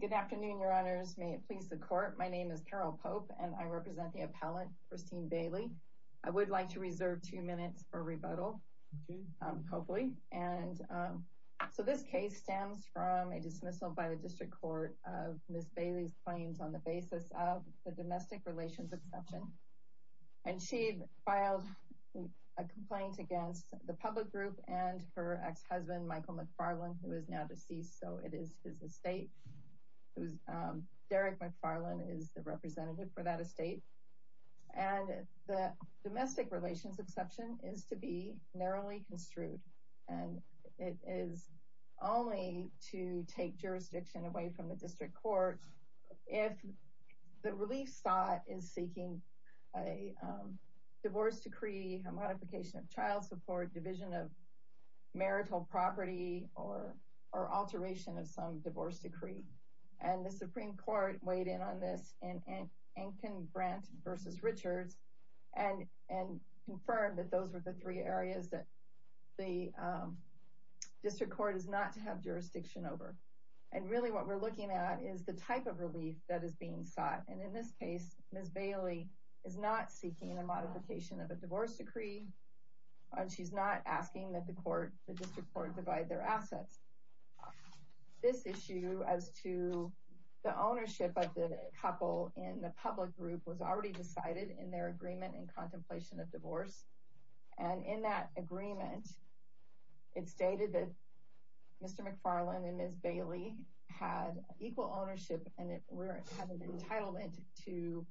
Good afternoon, your honors. May it please the court. My name is Carol Pope and I represent the appellant Christine Bailey. I would like to reserve two minutes for rebuttal, hopefully, and so this case stems from a dismissal by the district court of Miss Bailey's claims on the basis of the domestic relations exception. And she filed a complaint against the public group and her ex-husband, Michael McFarland, who is now deceased. So it is his estate. It was Derek McFarland is the representative for that estate. And the domestic relations exception is to be narrowly construed, and it is only to take jurisdiction away from the district court if the relief sought is seeking a divorce decree, a modification of child support, division of marital property or or alteration of some divorce decree. And the Supreme Court weighed in on this and can grant versus Richards and and confirmed that those were the three areas that the district court is not to have jurisdiction over. And really, what we're looking at is the type of relief that is being sought. And in this case, Miss Bailey is not seeking a modification of a divorce decree, and she's not asking that the court, the district court, divide their assets. This issue as to the ownership of the couple in the public group was already decided in their agreement and contemplation of divorce. And in that agreement, it's stated that Mr. McFarland and Miss Bailey had equal ownership and it had an entitlement to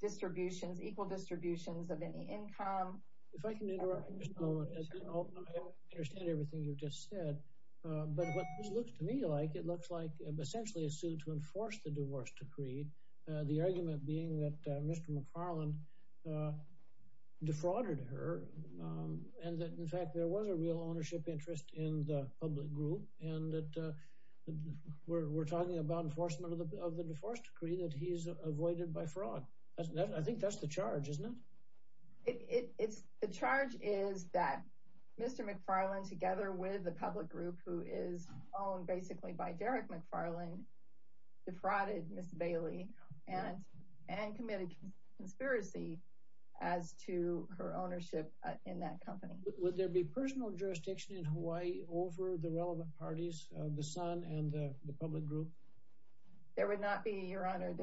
distributions, equal distributions of any income. If I can interrupt for just a moment, I understand everything you've just said, but what this looks to me like, it looks like essentially a suit to enforce the divorce decree. The argument being that Mr. McFarland defrauded her and that, in fact, there was a real ownership interest in the public group and that we're talking about enforcement of the divorce decree that he's avoided by fraud. I think that's the charge, isn't it? It's the charge is that Mr. McFarland, together with the public group, who is owned basically by Derek McFarland, defrauded Miss Bailey and and committed conspiracy as to her ownership in that company. Would there be personal jurisdiction in Hawaii over the relevant parties, the son and the public group? There would not be, your honor,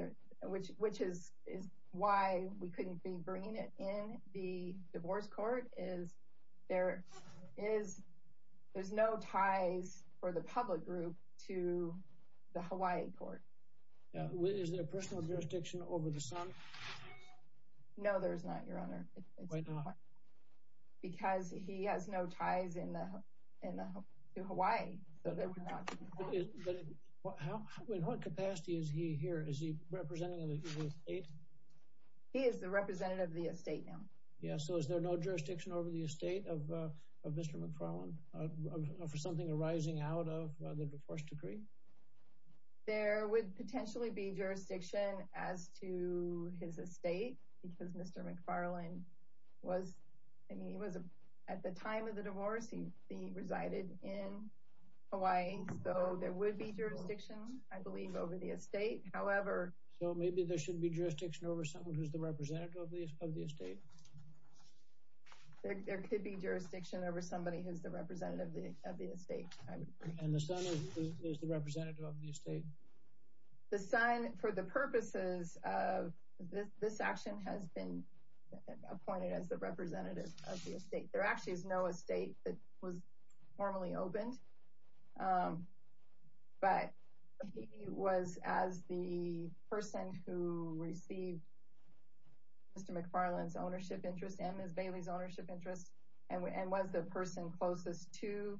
which which is is why we couldn't be bringing it in the divorce court is there is there's no ties for the public group to the Hawaii court. Is there a personal jurisdiction over the son? No, there's not, your honor. Because he has no ties in the in the Hawaii. So there would not be. In what capacity is he here? Is he representing the state? He is the representative of the estate now. Yeah, so is there no jurisdiction over the estate of Mr. McFarland for something arising out of the divorce decree? There would potentially be jurisdiction as to his estate because Mr. McFarland was, I mean, he was at the time of the divorce. He resided in Hawaii, so there would be jurisdiction, I believe, over the estate. However. So maybe there should be jurisdiction over someone who's the representative of the of the estate. There could be jurisdiction over somebody who's the representative of the of the estate. And the son is the representative of the estate. The son, for the purposes of this, this action has been appointed as the representative of the estate. There actually is no estate that was formally opened. But he was, as the person who received Mr. McFarland's ownership interest and Ms. Bailey's ownership interest, and was the person closest to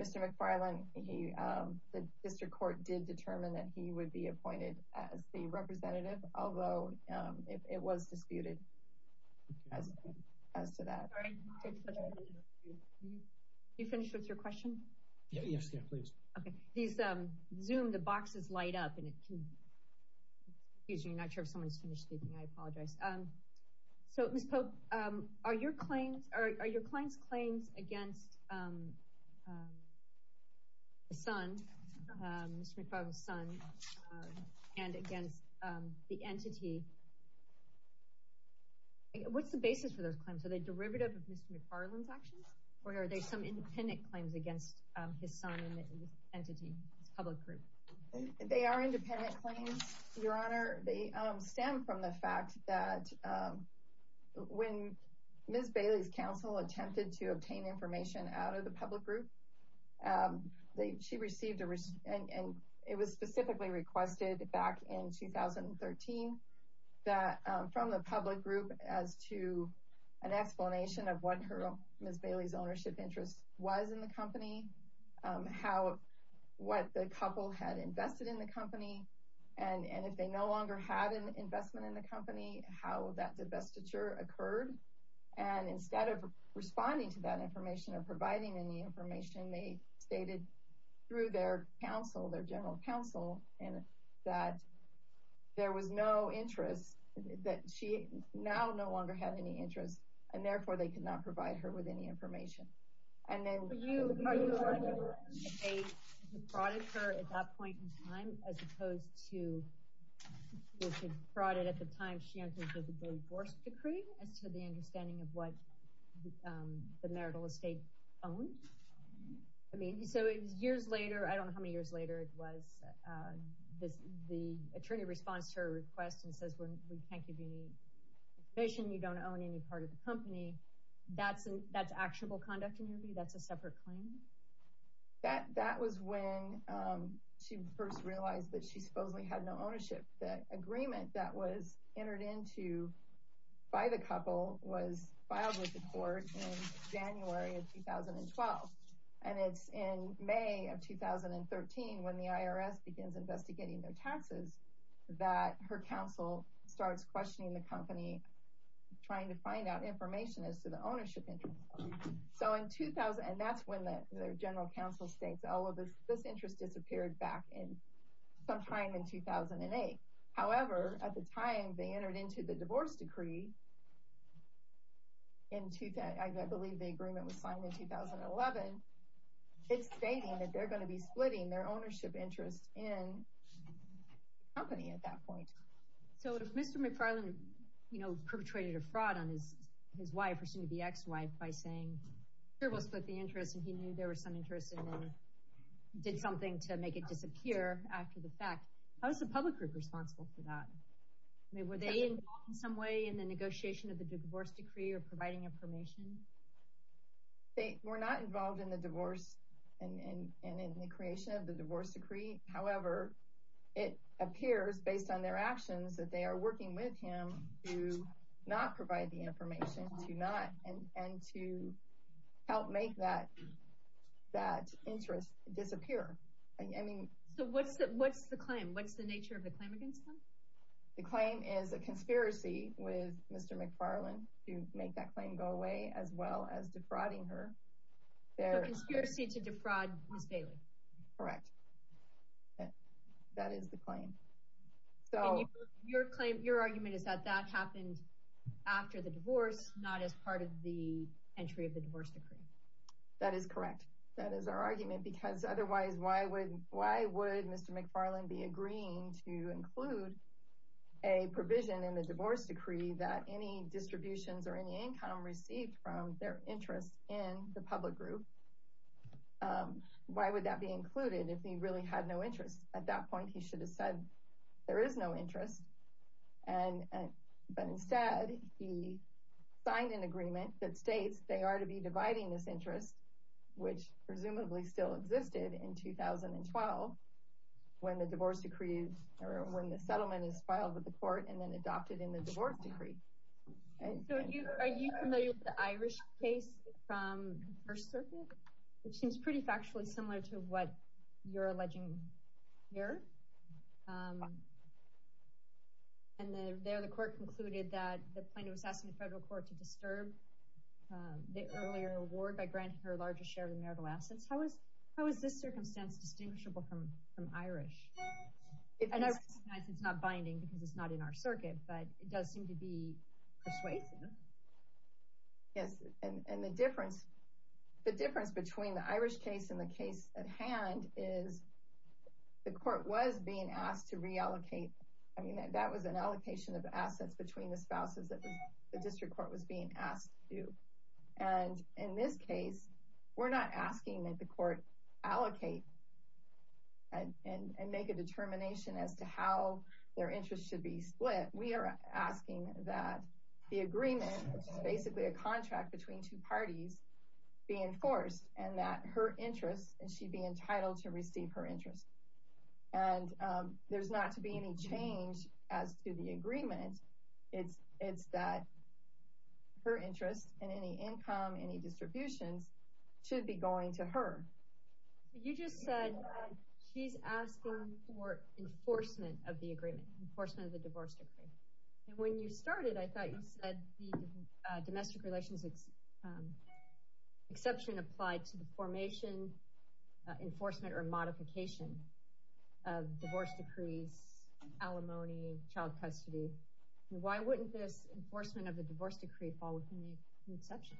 Mr. McFarland, the district court did determine that he would be appointed as the representative. Although it was disputed as to that. Sorry, did you finish with your question? Yes, please. Okay. These Zoom, the boxes light up and it can, excuse me, I'm not sure if someone's finished speaking. I apologize. So, Ms. Pope, are your claims, are your client's claims against the son, Mr. McFarland's son, and against the entity? What's the basis for those claims? Are they derivative of Mr. McFarland's actions? Or are they some independent claims against his son and his entity, his public group? They are independent claims, Your Honor. They stem from the fact that when Ms. Bailey's counsel attempted to obtain information out of the public group, she received a, and it was specifically requested back in 2013, that from the public group as to an explanation of what Ms. Bailey's ownership interest was in the company, how, what the couple had invested in the company, and if they no longer had an investment in the company, how that divestiture occurred. And instead of responding to that information or providing any information, they stated through their counsel, their general counsel, and that there was no interest, that she now no longer had any interest, and therefore they could not provide her with any information. And then, So you, are you arguing that they defrauded her at that point in time, as opposed to, if they defrauded at the time she entered into the divorce decree, as to the understanding of what the marital estate owned? I mean, so it was years later, I don't know how many years later it was, the attorney responds to her request and says, we can't give you any information, you don't own any part of the company. That's, that's actionable conduct in your view? That's a separate claim? That, that was when she first realized that she supposedly had no ownership. The agreement that was entered into by the couple was filed with the court in January of 2012. And it's in May of 2013, when the IRS begins investigating their taxes, that her counsel starts questioning the company, trying to find out information as to the ownership interest. So in 2000, and that's when their general counsel states, oh, this interest disappeared back in, sometime in 2008. However, at the time they entered into the divorce decree, in, I believe the agreement was signed in 2011, it's stating that they're going to be splitting their ownership interest in the company at that point. So if Mr. McFarland, you know, perpetrated a fraud on his, his wife, her soon-to-be ex-wife by saying, here we'll split the interest, and he knew there was some interest in it, did something to make it disappear after the fact, how is the public group responsible for that? I mean, were they involved in some way in the negotiation of the divorce decree or providing information? They were not involved in the divorce and, and, and in the creation of the divorce decree. However, it appears based on their actions that they are working with him to not provide the information, to not, and, and to help make that, that interest disappear. I mean. So what's the, what's the claim? What's the nature of the claim against them? The claim is a conspiracy with Mr. McFarland to make that claim go away, as well as defrauding her. Correct. That is the claim. So your claim, your argument is that that happened after the divorce, not as part of the entry of the divorce decree. That is correct. That is our argument, because otherwise, why would, why would Mr. McFarland be agreeing to include a provision in the divorce decree that any distributions or any income received from their interest in the public group? Why would that be included if he really had no interest? At that point, he should have said there is no interest. And, and, but instead, he signed an agreement that states they are to be dividing this interest, which presumably still existed in 2012 when the divorce decree or when the settlement is filed with the court and then the Irish case from the First Circuit, which seems pretty factually similar to what you're alleging here. And there the court concluded that the plaintiff was asking the federal court to disturb the earlier award by granting her a larger share of the marital assets. How is, how is this circumstance distinguishable from, from Irish? And I recognize it's not binding because it's not in our circuit, but it does seem to be persuasive. Yes. And the difference, the difference between the Irish case and the case at hand is the court was being asked to reallocate. I mean, that was an allocation of assets between the spouses that the district court was being asked to. And in this case, we're not asking that the court allocate and make a determination as to how their interests should be split. We are asking that the agreement, which is basically a contract between two parties, be enforced and that her interests and she'd be entitled to receive her interest. And there's not to be any change as to the agreement. It's, it's that her interest and any income, any distributions should be going to her. You just said she's asking for enforcement of the agreement, enforcement of the divorce decree. And when you started, I thought you said the domestic relations exception applied to the formation, enforcement or modification of divorce decrees, alimony, child custody. Why wouldn't this enforcement of the divorce decree fall within the exception?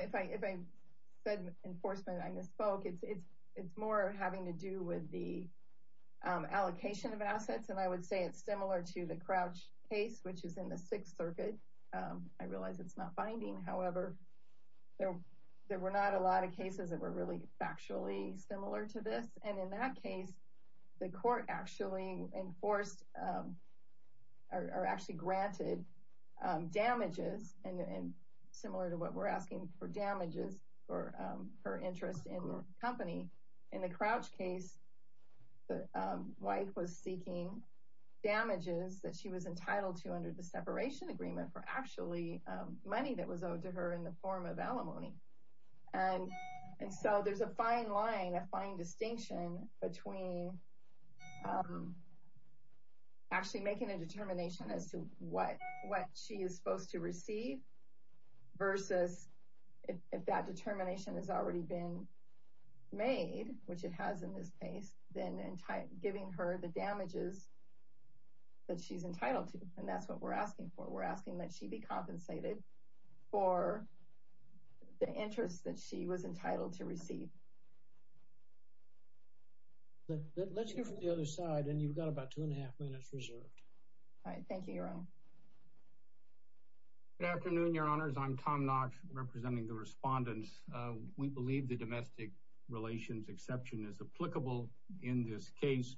If I, if I said enforcement, I misspoke. It's, it's, more having to do with the allocation of assets. And I would say it's similar to the Crouch case, which is in the Sixth Circuit. I realize it's not binding. However, there, there were not a lot of cases that were really factually similar to this. And in that case, the court actually enforced or actually granted damages and similar to what we're asking for damages for her interest in the company. In the Crouch case, the wife was seeking damages that she was entitled to under the separation agreement for actually money that was owed to her in the form of alimony. And, and so there's a fine line, a fine distinction between actually making a determination as to what, what she is supposed to receive versus if that determination has already been made, which it has in this case, then giving her the damages that she's entitled to. And that's what we're asking for. We're asking that she be compensated for the interest that she was entitled to receive. Let's hear from the other side. And you've got about two and a half minutes reserved. All right. Thank you, Your Honor. Good afternoon, Your Honors. I'm Tom Knox representing the respondents. We believe the domestic relations exception is applicable in this case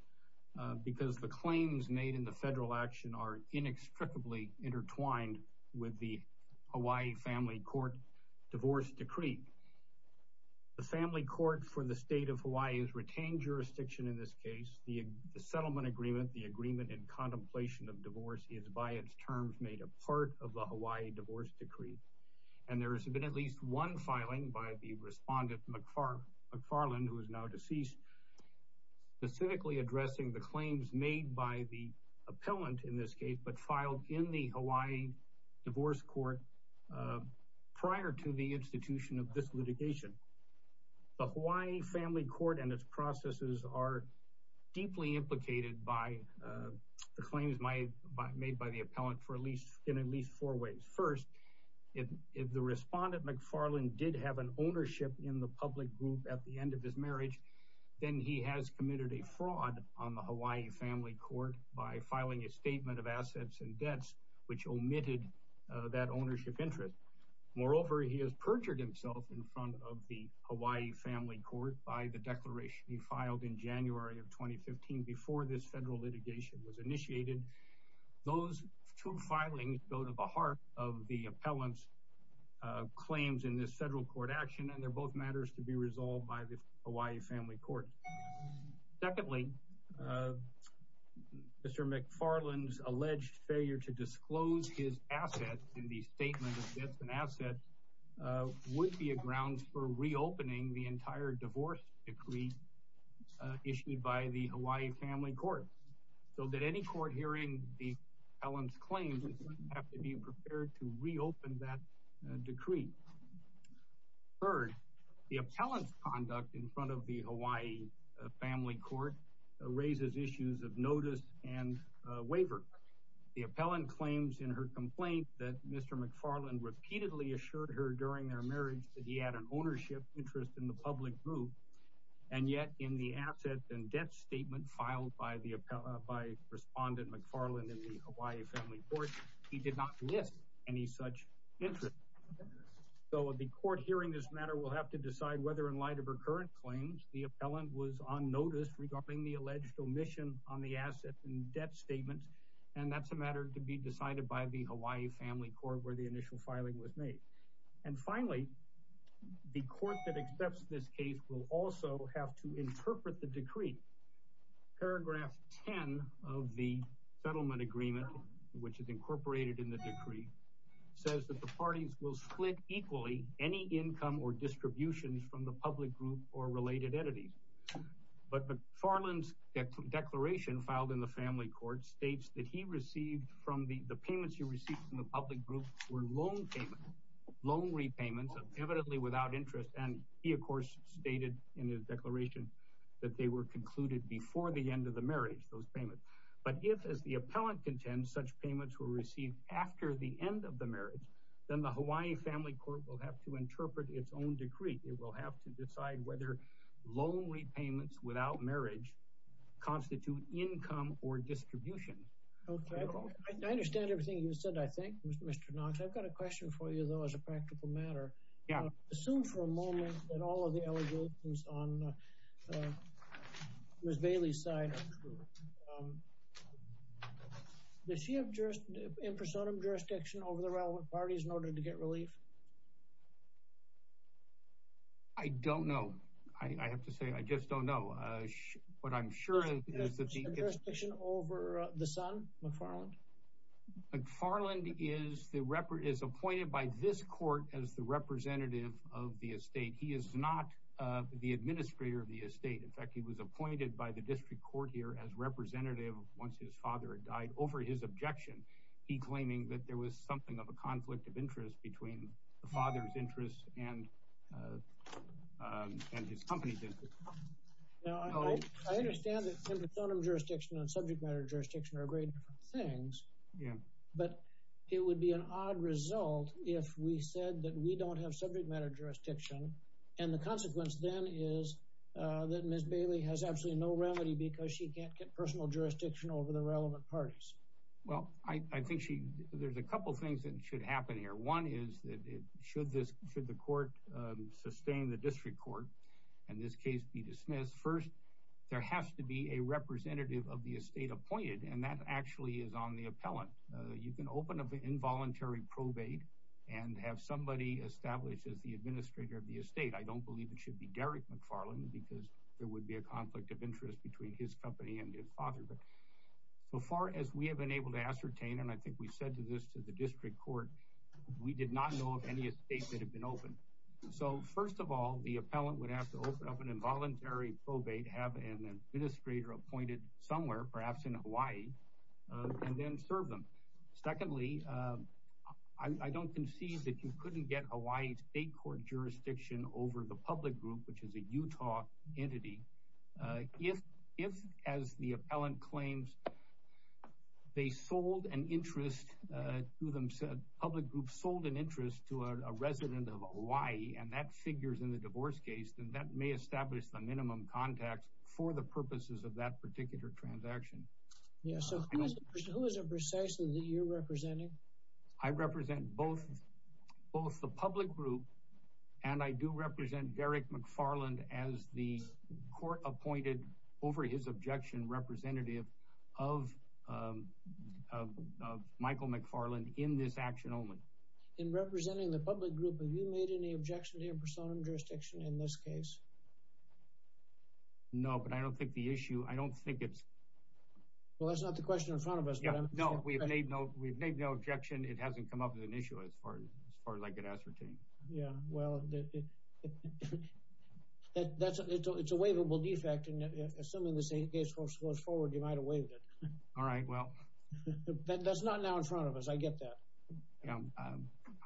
because the claims made in the federal action are inextricably intertwined with the Hawaii family court divorce decree. The family court for the state of Hawaii has retained jurisdiction in this case. The settlement agreement, the agreement in contemplation of divorce is by its terms made a part of the Hawaii divorce decree. And there has been at least one filing by the respondent McFarland, who is now deceased, specifically addressing the claims made by the appellant in this case, but filed in the Hawaii divorce court prior to the institution of this litigation. The Hawaii family court and its by the claims made by the appellant for at least in at least four ways. First, if the respondent McFarland did have an ownership in the public group at the end of his marriage, then he has committed a fraud on the Hawaii family court by filing a statement of assets and debts, which omitted that ownership interest. Moreover, he has perjured himself in front of the Hawaii family court by the declaration he filed in January of 2015 before this federal litigation was initiated. Those two filings go to the heart of the appellant's claims in this federal court action, and they're both matters to be resolved by the Hawaii family court. Secondly, Mr. McFarland's alleged failure to disclose his assets in the statement of debts and assets would be a grounds for reopening the entire divorce decree issued by the Hawaii family court. So that any court hearing the appellant's claims have to be prepared to reopen that decree. Third, the appellant's conduct in front of the Hawaii family court raises issues of notice and waiver. The appellant claims in her complaint that Mr. McFarland repeatedly assured her during their marriage that he had ownership interest in the public group, and yet in the asset and debt statement filed by the appellant, by respondent McFarland in the Hawaii family court, he did not miss any such interest. So the court hearing this matter will have to decide whether in light of her current claims, the appellant was on notice regarding the alleged omission on the asset and debt statements, and that's a matter to be decided by the Hawaii family court where the initial filing was made. And finally, the court that accepts this case will also have to interpret the decree. Paragraph 10 of the settlement agreement, which is incorporated in the decree, says that the parties will split equally any income or distributions from the public group or related entities. But McFarland's declaration filed in the family court states that he received from the payments he received from the public group were loan payments, loan repayments evidently without interest, and he of course stated in his declaration that they were concluded before the end of the marriage, those payments. But if, as the appellant contends, such payments were received after the end of the marriage, then the Hawaii family court will have to interpret its own decree. It will have to decide whether loan repayments without marriage constitute income or distribution. Okay, I understand everything you said, I think, Mr. Knox. I've got a question for you though as a practical matter. Yeah. Assume for a moment that all of the allegations on Ms. Bailey's side are true. Does she have impersonum jurisdiction over the relevant parties in order to get relief? I don't know. I have to say I just don't know. What I'm sure is that the jurisdiction over the son, McFarland? McFarland is appointed by this court as the representative of the estate. He is not the administrator of the estate. In fact, he was appointed by the district court here as representative once his father had died over his objection. He claiming that there was something of a conflict of interest between the father's company business. Now, I understand that impersonum jurisdiction and subject matter jurisdiction are very different things. Yeah. But it would be an odd result if we said that we don't have subject matter jurisdiction. And the consequence then is that Ms. Bailey has absolutely no remedy because she can't get personal jurisdiction over the relevant parties. Well, I think she there's a couple things that should happen here. One is that it should this should the court sustain the district court and this case be dismissed. First, there has to be a representative of the estate appointed. And that actually is on the appellant. You can open up the involuntary probate and have somebody established as the administrator of the estate. I don't believe it should be Derek McFarland because there would be a conflict of interest between his company and his father. But so far as we have been able to ascertain, and I think we open. So first of all, the appellant would have to open up an involuntary probate, have an administrator appointed somewhere, perhaps in Hawaii, and then serve them. Secondly, I don't concede that you couldn't get a white state court jurisdiction over the public group, which is a Utah entity. If if as the appellant claims, they sold an interest to them, said public groups sold an Hawaii and that figures in the divorce case, then that may establish the minimum contacts for the purposes of that particular transaction. Yeah. So who is it precisely that you're representing? I represent both both the public group and I do represent Derek McFarland as the court appointed over his objection representative of Michael McFarland in this action only. In representing the public group, have you made any objection to your persona and jurisdiction in this case? No, but I don't think the issue I don't think it's. Well, that's not the question in front of us. Yeah, no, we've made no we've made no objection. It hasn't come up with an issue as far as far as I could ascertain. Yeah, well, that's it's a waivable defect. And assuming this case goes forward, you might have waived it. All right. Well, that's not now in front of us. Yeah,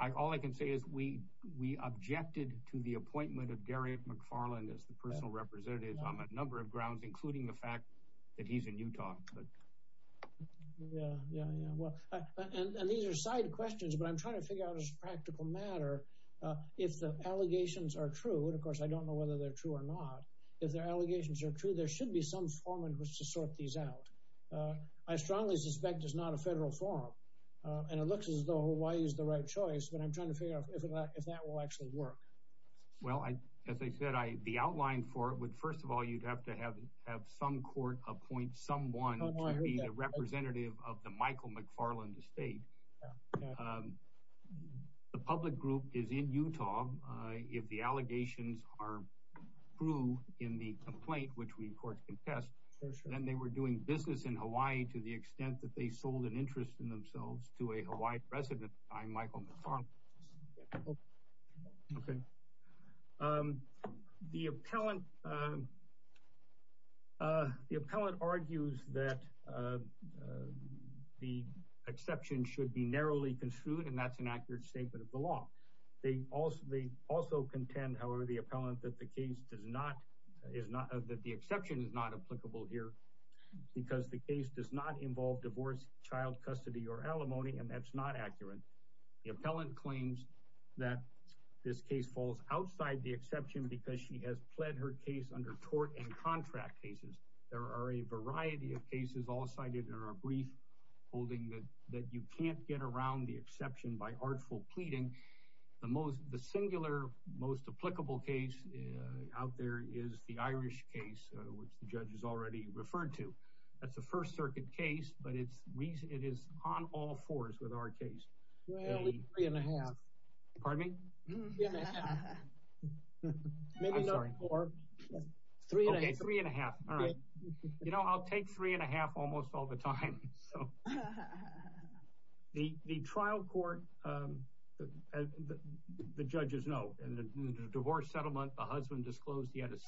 I all I can say is we we objected to the appointment of Gary McFarland as the personal representative on a number of grounds, including the fact that he's in Utah. Yeah, yeah, yeah. Well, and these are side questions, but I'm trying to figure out as a practical matter if the allegations are true. And of course, I don't know whether they're true or not. If their allegations are true, there should be some form in which to sort these out. I strongly suspect it's not a federal forum, and it looks as though Hawaii is the right choice, but I'm trying to figure out if that will actually work. Well, as I said, I the outline for it would first of all, you'd have to have some court appoint someone to be a representative of the Michael McFarland estate. The public group is in Utah. If the allegations are true in the complaint, which we, of course, contest, then they were doing business in Hawaii to the extent that they sold an interest in themselves to a Hawaiian resident by Michael McFarland. OK. The appellant. The appellant argues that the exception should be narrowly construed, and that's an accurate statement of the law. They also they also contend, however, the appellant that the case does not is not that the exception is not applicable here because the case does not involve divorce, child custody or alimony, and that's not accurate. The appellant claims that this case falls outside the exception because she has pled her case under tort and contract cases. There are a variety of cases all cited in our brief holding that you can't get around the exception by artful pleading. The most the singular, most applicable case out there is the Irish case, which the judge has already referred to. That's a First Circuit case, but it's it is on all fours with our case. Three and a half. Pardon me? Maybe not four. Three and a half. All right. You know, I'll take three and a half almost all the time. So the trial court, the judge is no divorce settlement. The husband disclosed he had a 6%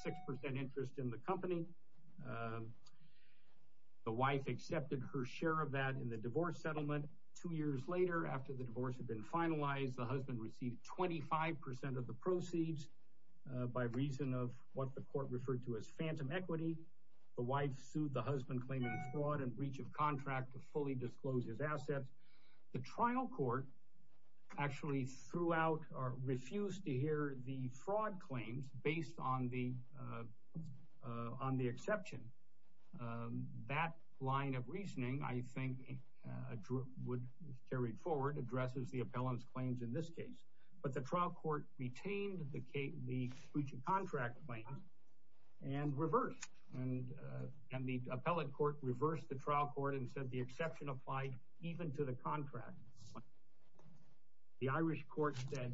interest in the company. The wife accepted her share of that in the divorce settlement. Two years later, after the divorce had been finalized, the husband received 25% of the proceeds by reason of what the court referred to as phantom equity. The wife sued the husband claiming fraud and breach of contract to fully disclose his assets. The trial court actually threw out or refused to hear the fraud claims based on the on the exception. That line of reasoning, I think, would carry forward addresses the appellant's claims in this case. But the trial retained the breach of contract claims and reversed. And the appellant court reversed the trial court and said the exception applied even to the contract. The Irish court said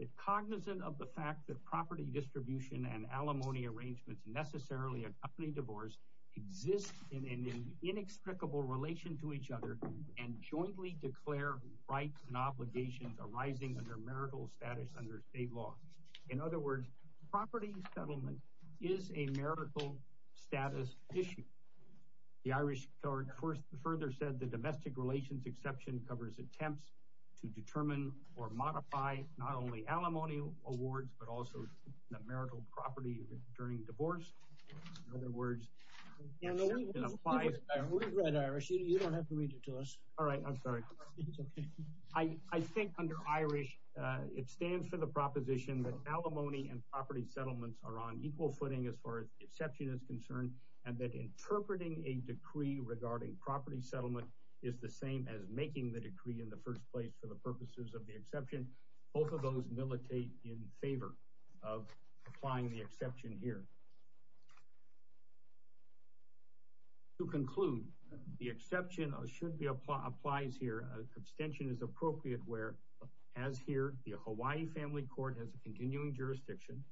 that cognizant of the fact that property distribution and alimony arrangements necessarily accompany divorce exist in an inextricable relation to each other and jointly declare rights and obligations arising under marital status under state law. In other words, property settlement is a marital status issue. The Irish court first further said the domestic relations exception covers attempts to determine or modify not only alimony awards but also the marital property during divorce. In other words, the exception applies. We've read Irish. You don't have to read it to us. All right. I'm sorry. It's okay. I think under Irish, it stands for the proposition that alimony and property settlements are on equal footing as far as exception is concerned and that interpreting a decree regarding property settlement is the same as making the decree in the first place for the purposes of the exception. Both of those militate in favor of applying the exception here. To conclude, the exception should be applies here. An extension is appropriate where, as here, the Hawaii family court has a continuing jurisdiction.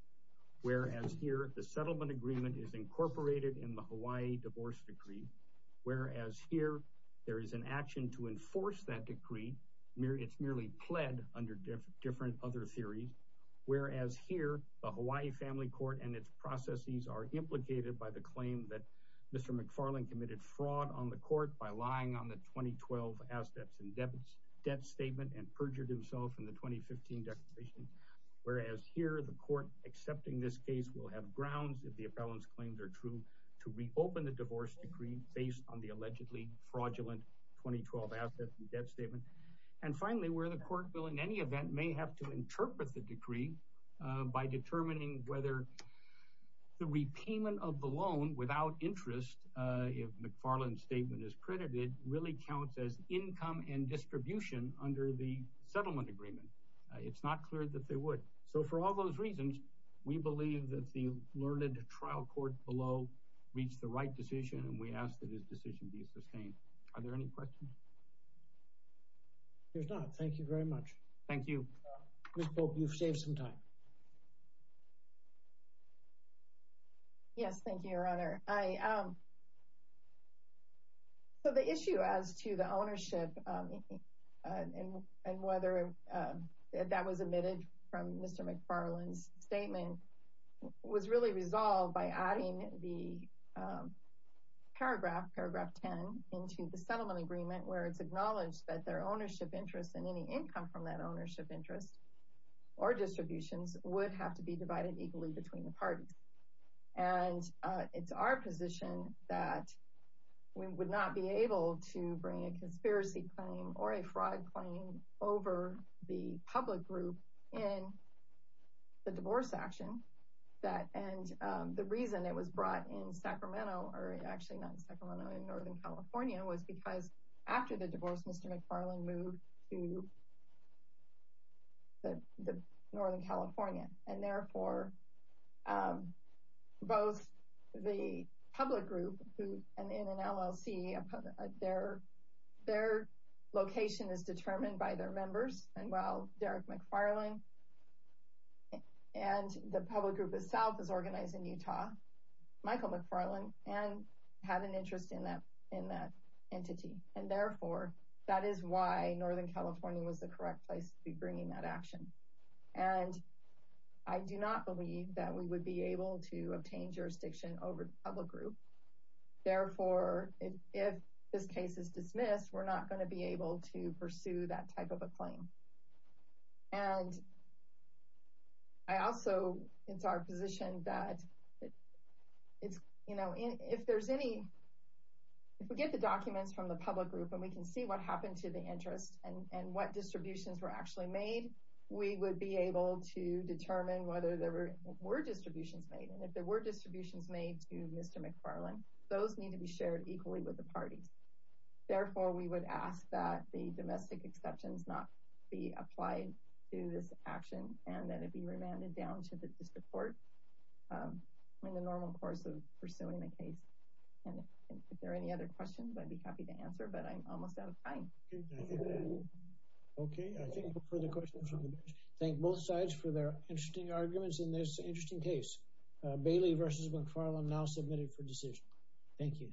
Whereas here, the settlement agreement is incorporated in the Hawaii divorce decree. Whereas here, there is an action to enforce that decree. It's merely pled under different other theories. Whereas here, the Hawaii family court and its processes are implicated by the claim that Mr. McFarland committed fraud on the court by lying on the 2012 assets and debts statement and perjured himself in the 2015 declaration. Whereas here, the court accepting this case will have grounds, if the appellant's claims are true, to reopen the divorce decree based on the allegedly fraudulent 2012 assets and debt statement. And finally, where the court bill in any event may have to interpret the decree by determining whether the repayment of the loan without interest, if McFarland's statement is credited, really counts as income and distribution under the settlement agreement. It's not clear that they would. So for all those reasons, we believe that the learned trial court below reached the right decision and we ask that this decision be sustained. Are there any questions? There's not. Thank you very much. Thank you. Ms. Pope, you've saved some time. Yes, thank you, your honor. So the issue as to the ownership and whether that was admitted from Mr. McFarland's statement was really resolved by adding the paragraph, paragraph 10, into the settlement agreement where it's acknowledged that their ownership interest and any income from that ownership interest or distributions would have to be divided equally between the parties. And it's our position that we would not be able to bring a conspiracy claim or a fraud claim over the public group in the divorce action. And the reason it was brought in Sacramento, or actually not in Sacramento, in Northern California was because after the divorce, Mr. McFarland moved to Northern California. And therefore, both the public group and in an LLC, their location is determined by their members. And while Derek McFarland and the public group itself is organized in Utah, Michael McFarland had an interest in that entity. And therefore, that is why Northern California was the correct place to be bringing that action. And I do not believe that we would be able to obtain jurisdiction over the public group. Therefore, if this case is dismissed, we're not going to be able to pursue that type of a claim. And I also, it's our position that it's, you know, if there's any, if we get the documents from the public group and we can see what happened to the interest and what distributions were actually made, we would be able to determine whether there were distributions made. And if there were distributions made to Mr. McFarland, those need to be shared equally with the parties. Therefore, we would ask that the domestic exceptions not be applied to this action and that it be remanded down to the district court in the normal course of pursuing the case. And if there are any other questions, I'd be happy to answer, but I'm almost out of time. Okay, I think for the questions, thank both sides for their interesting arguments in this interesting case. Bailey versus McFarland now submitted for decision. Thank you.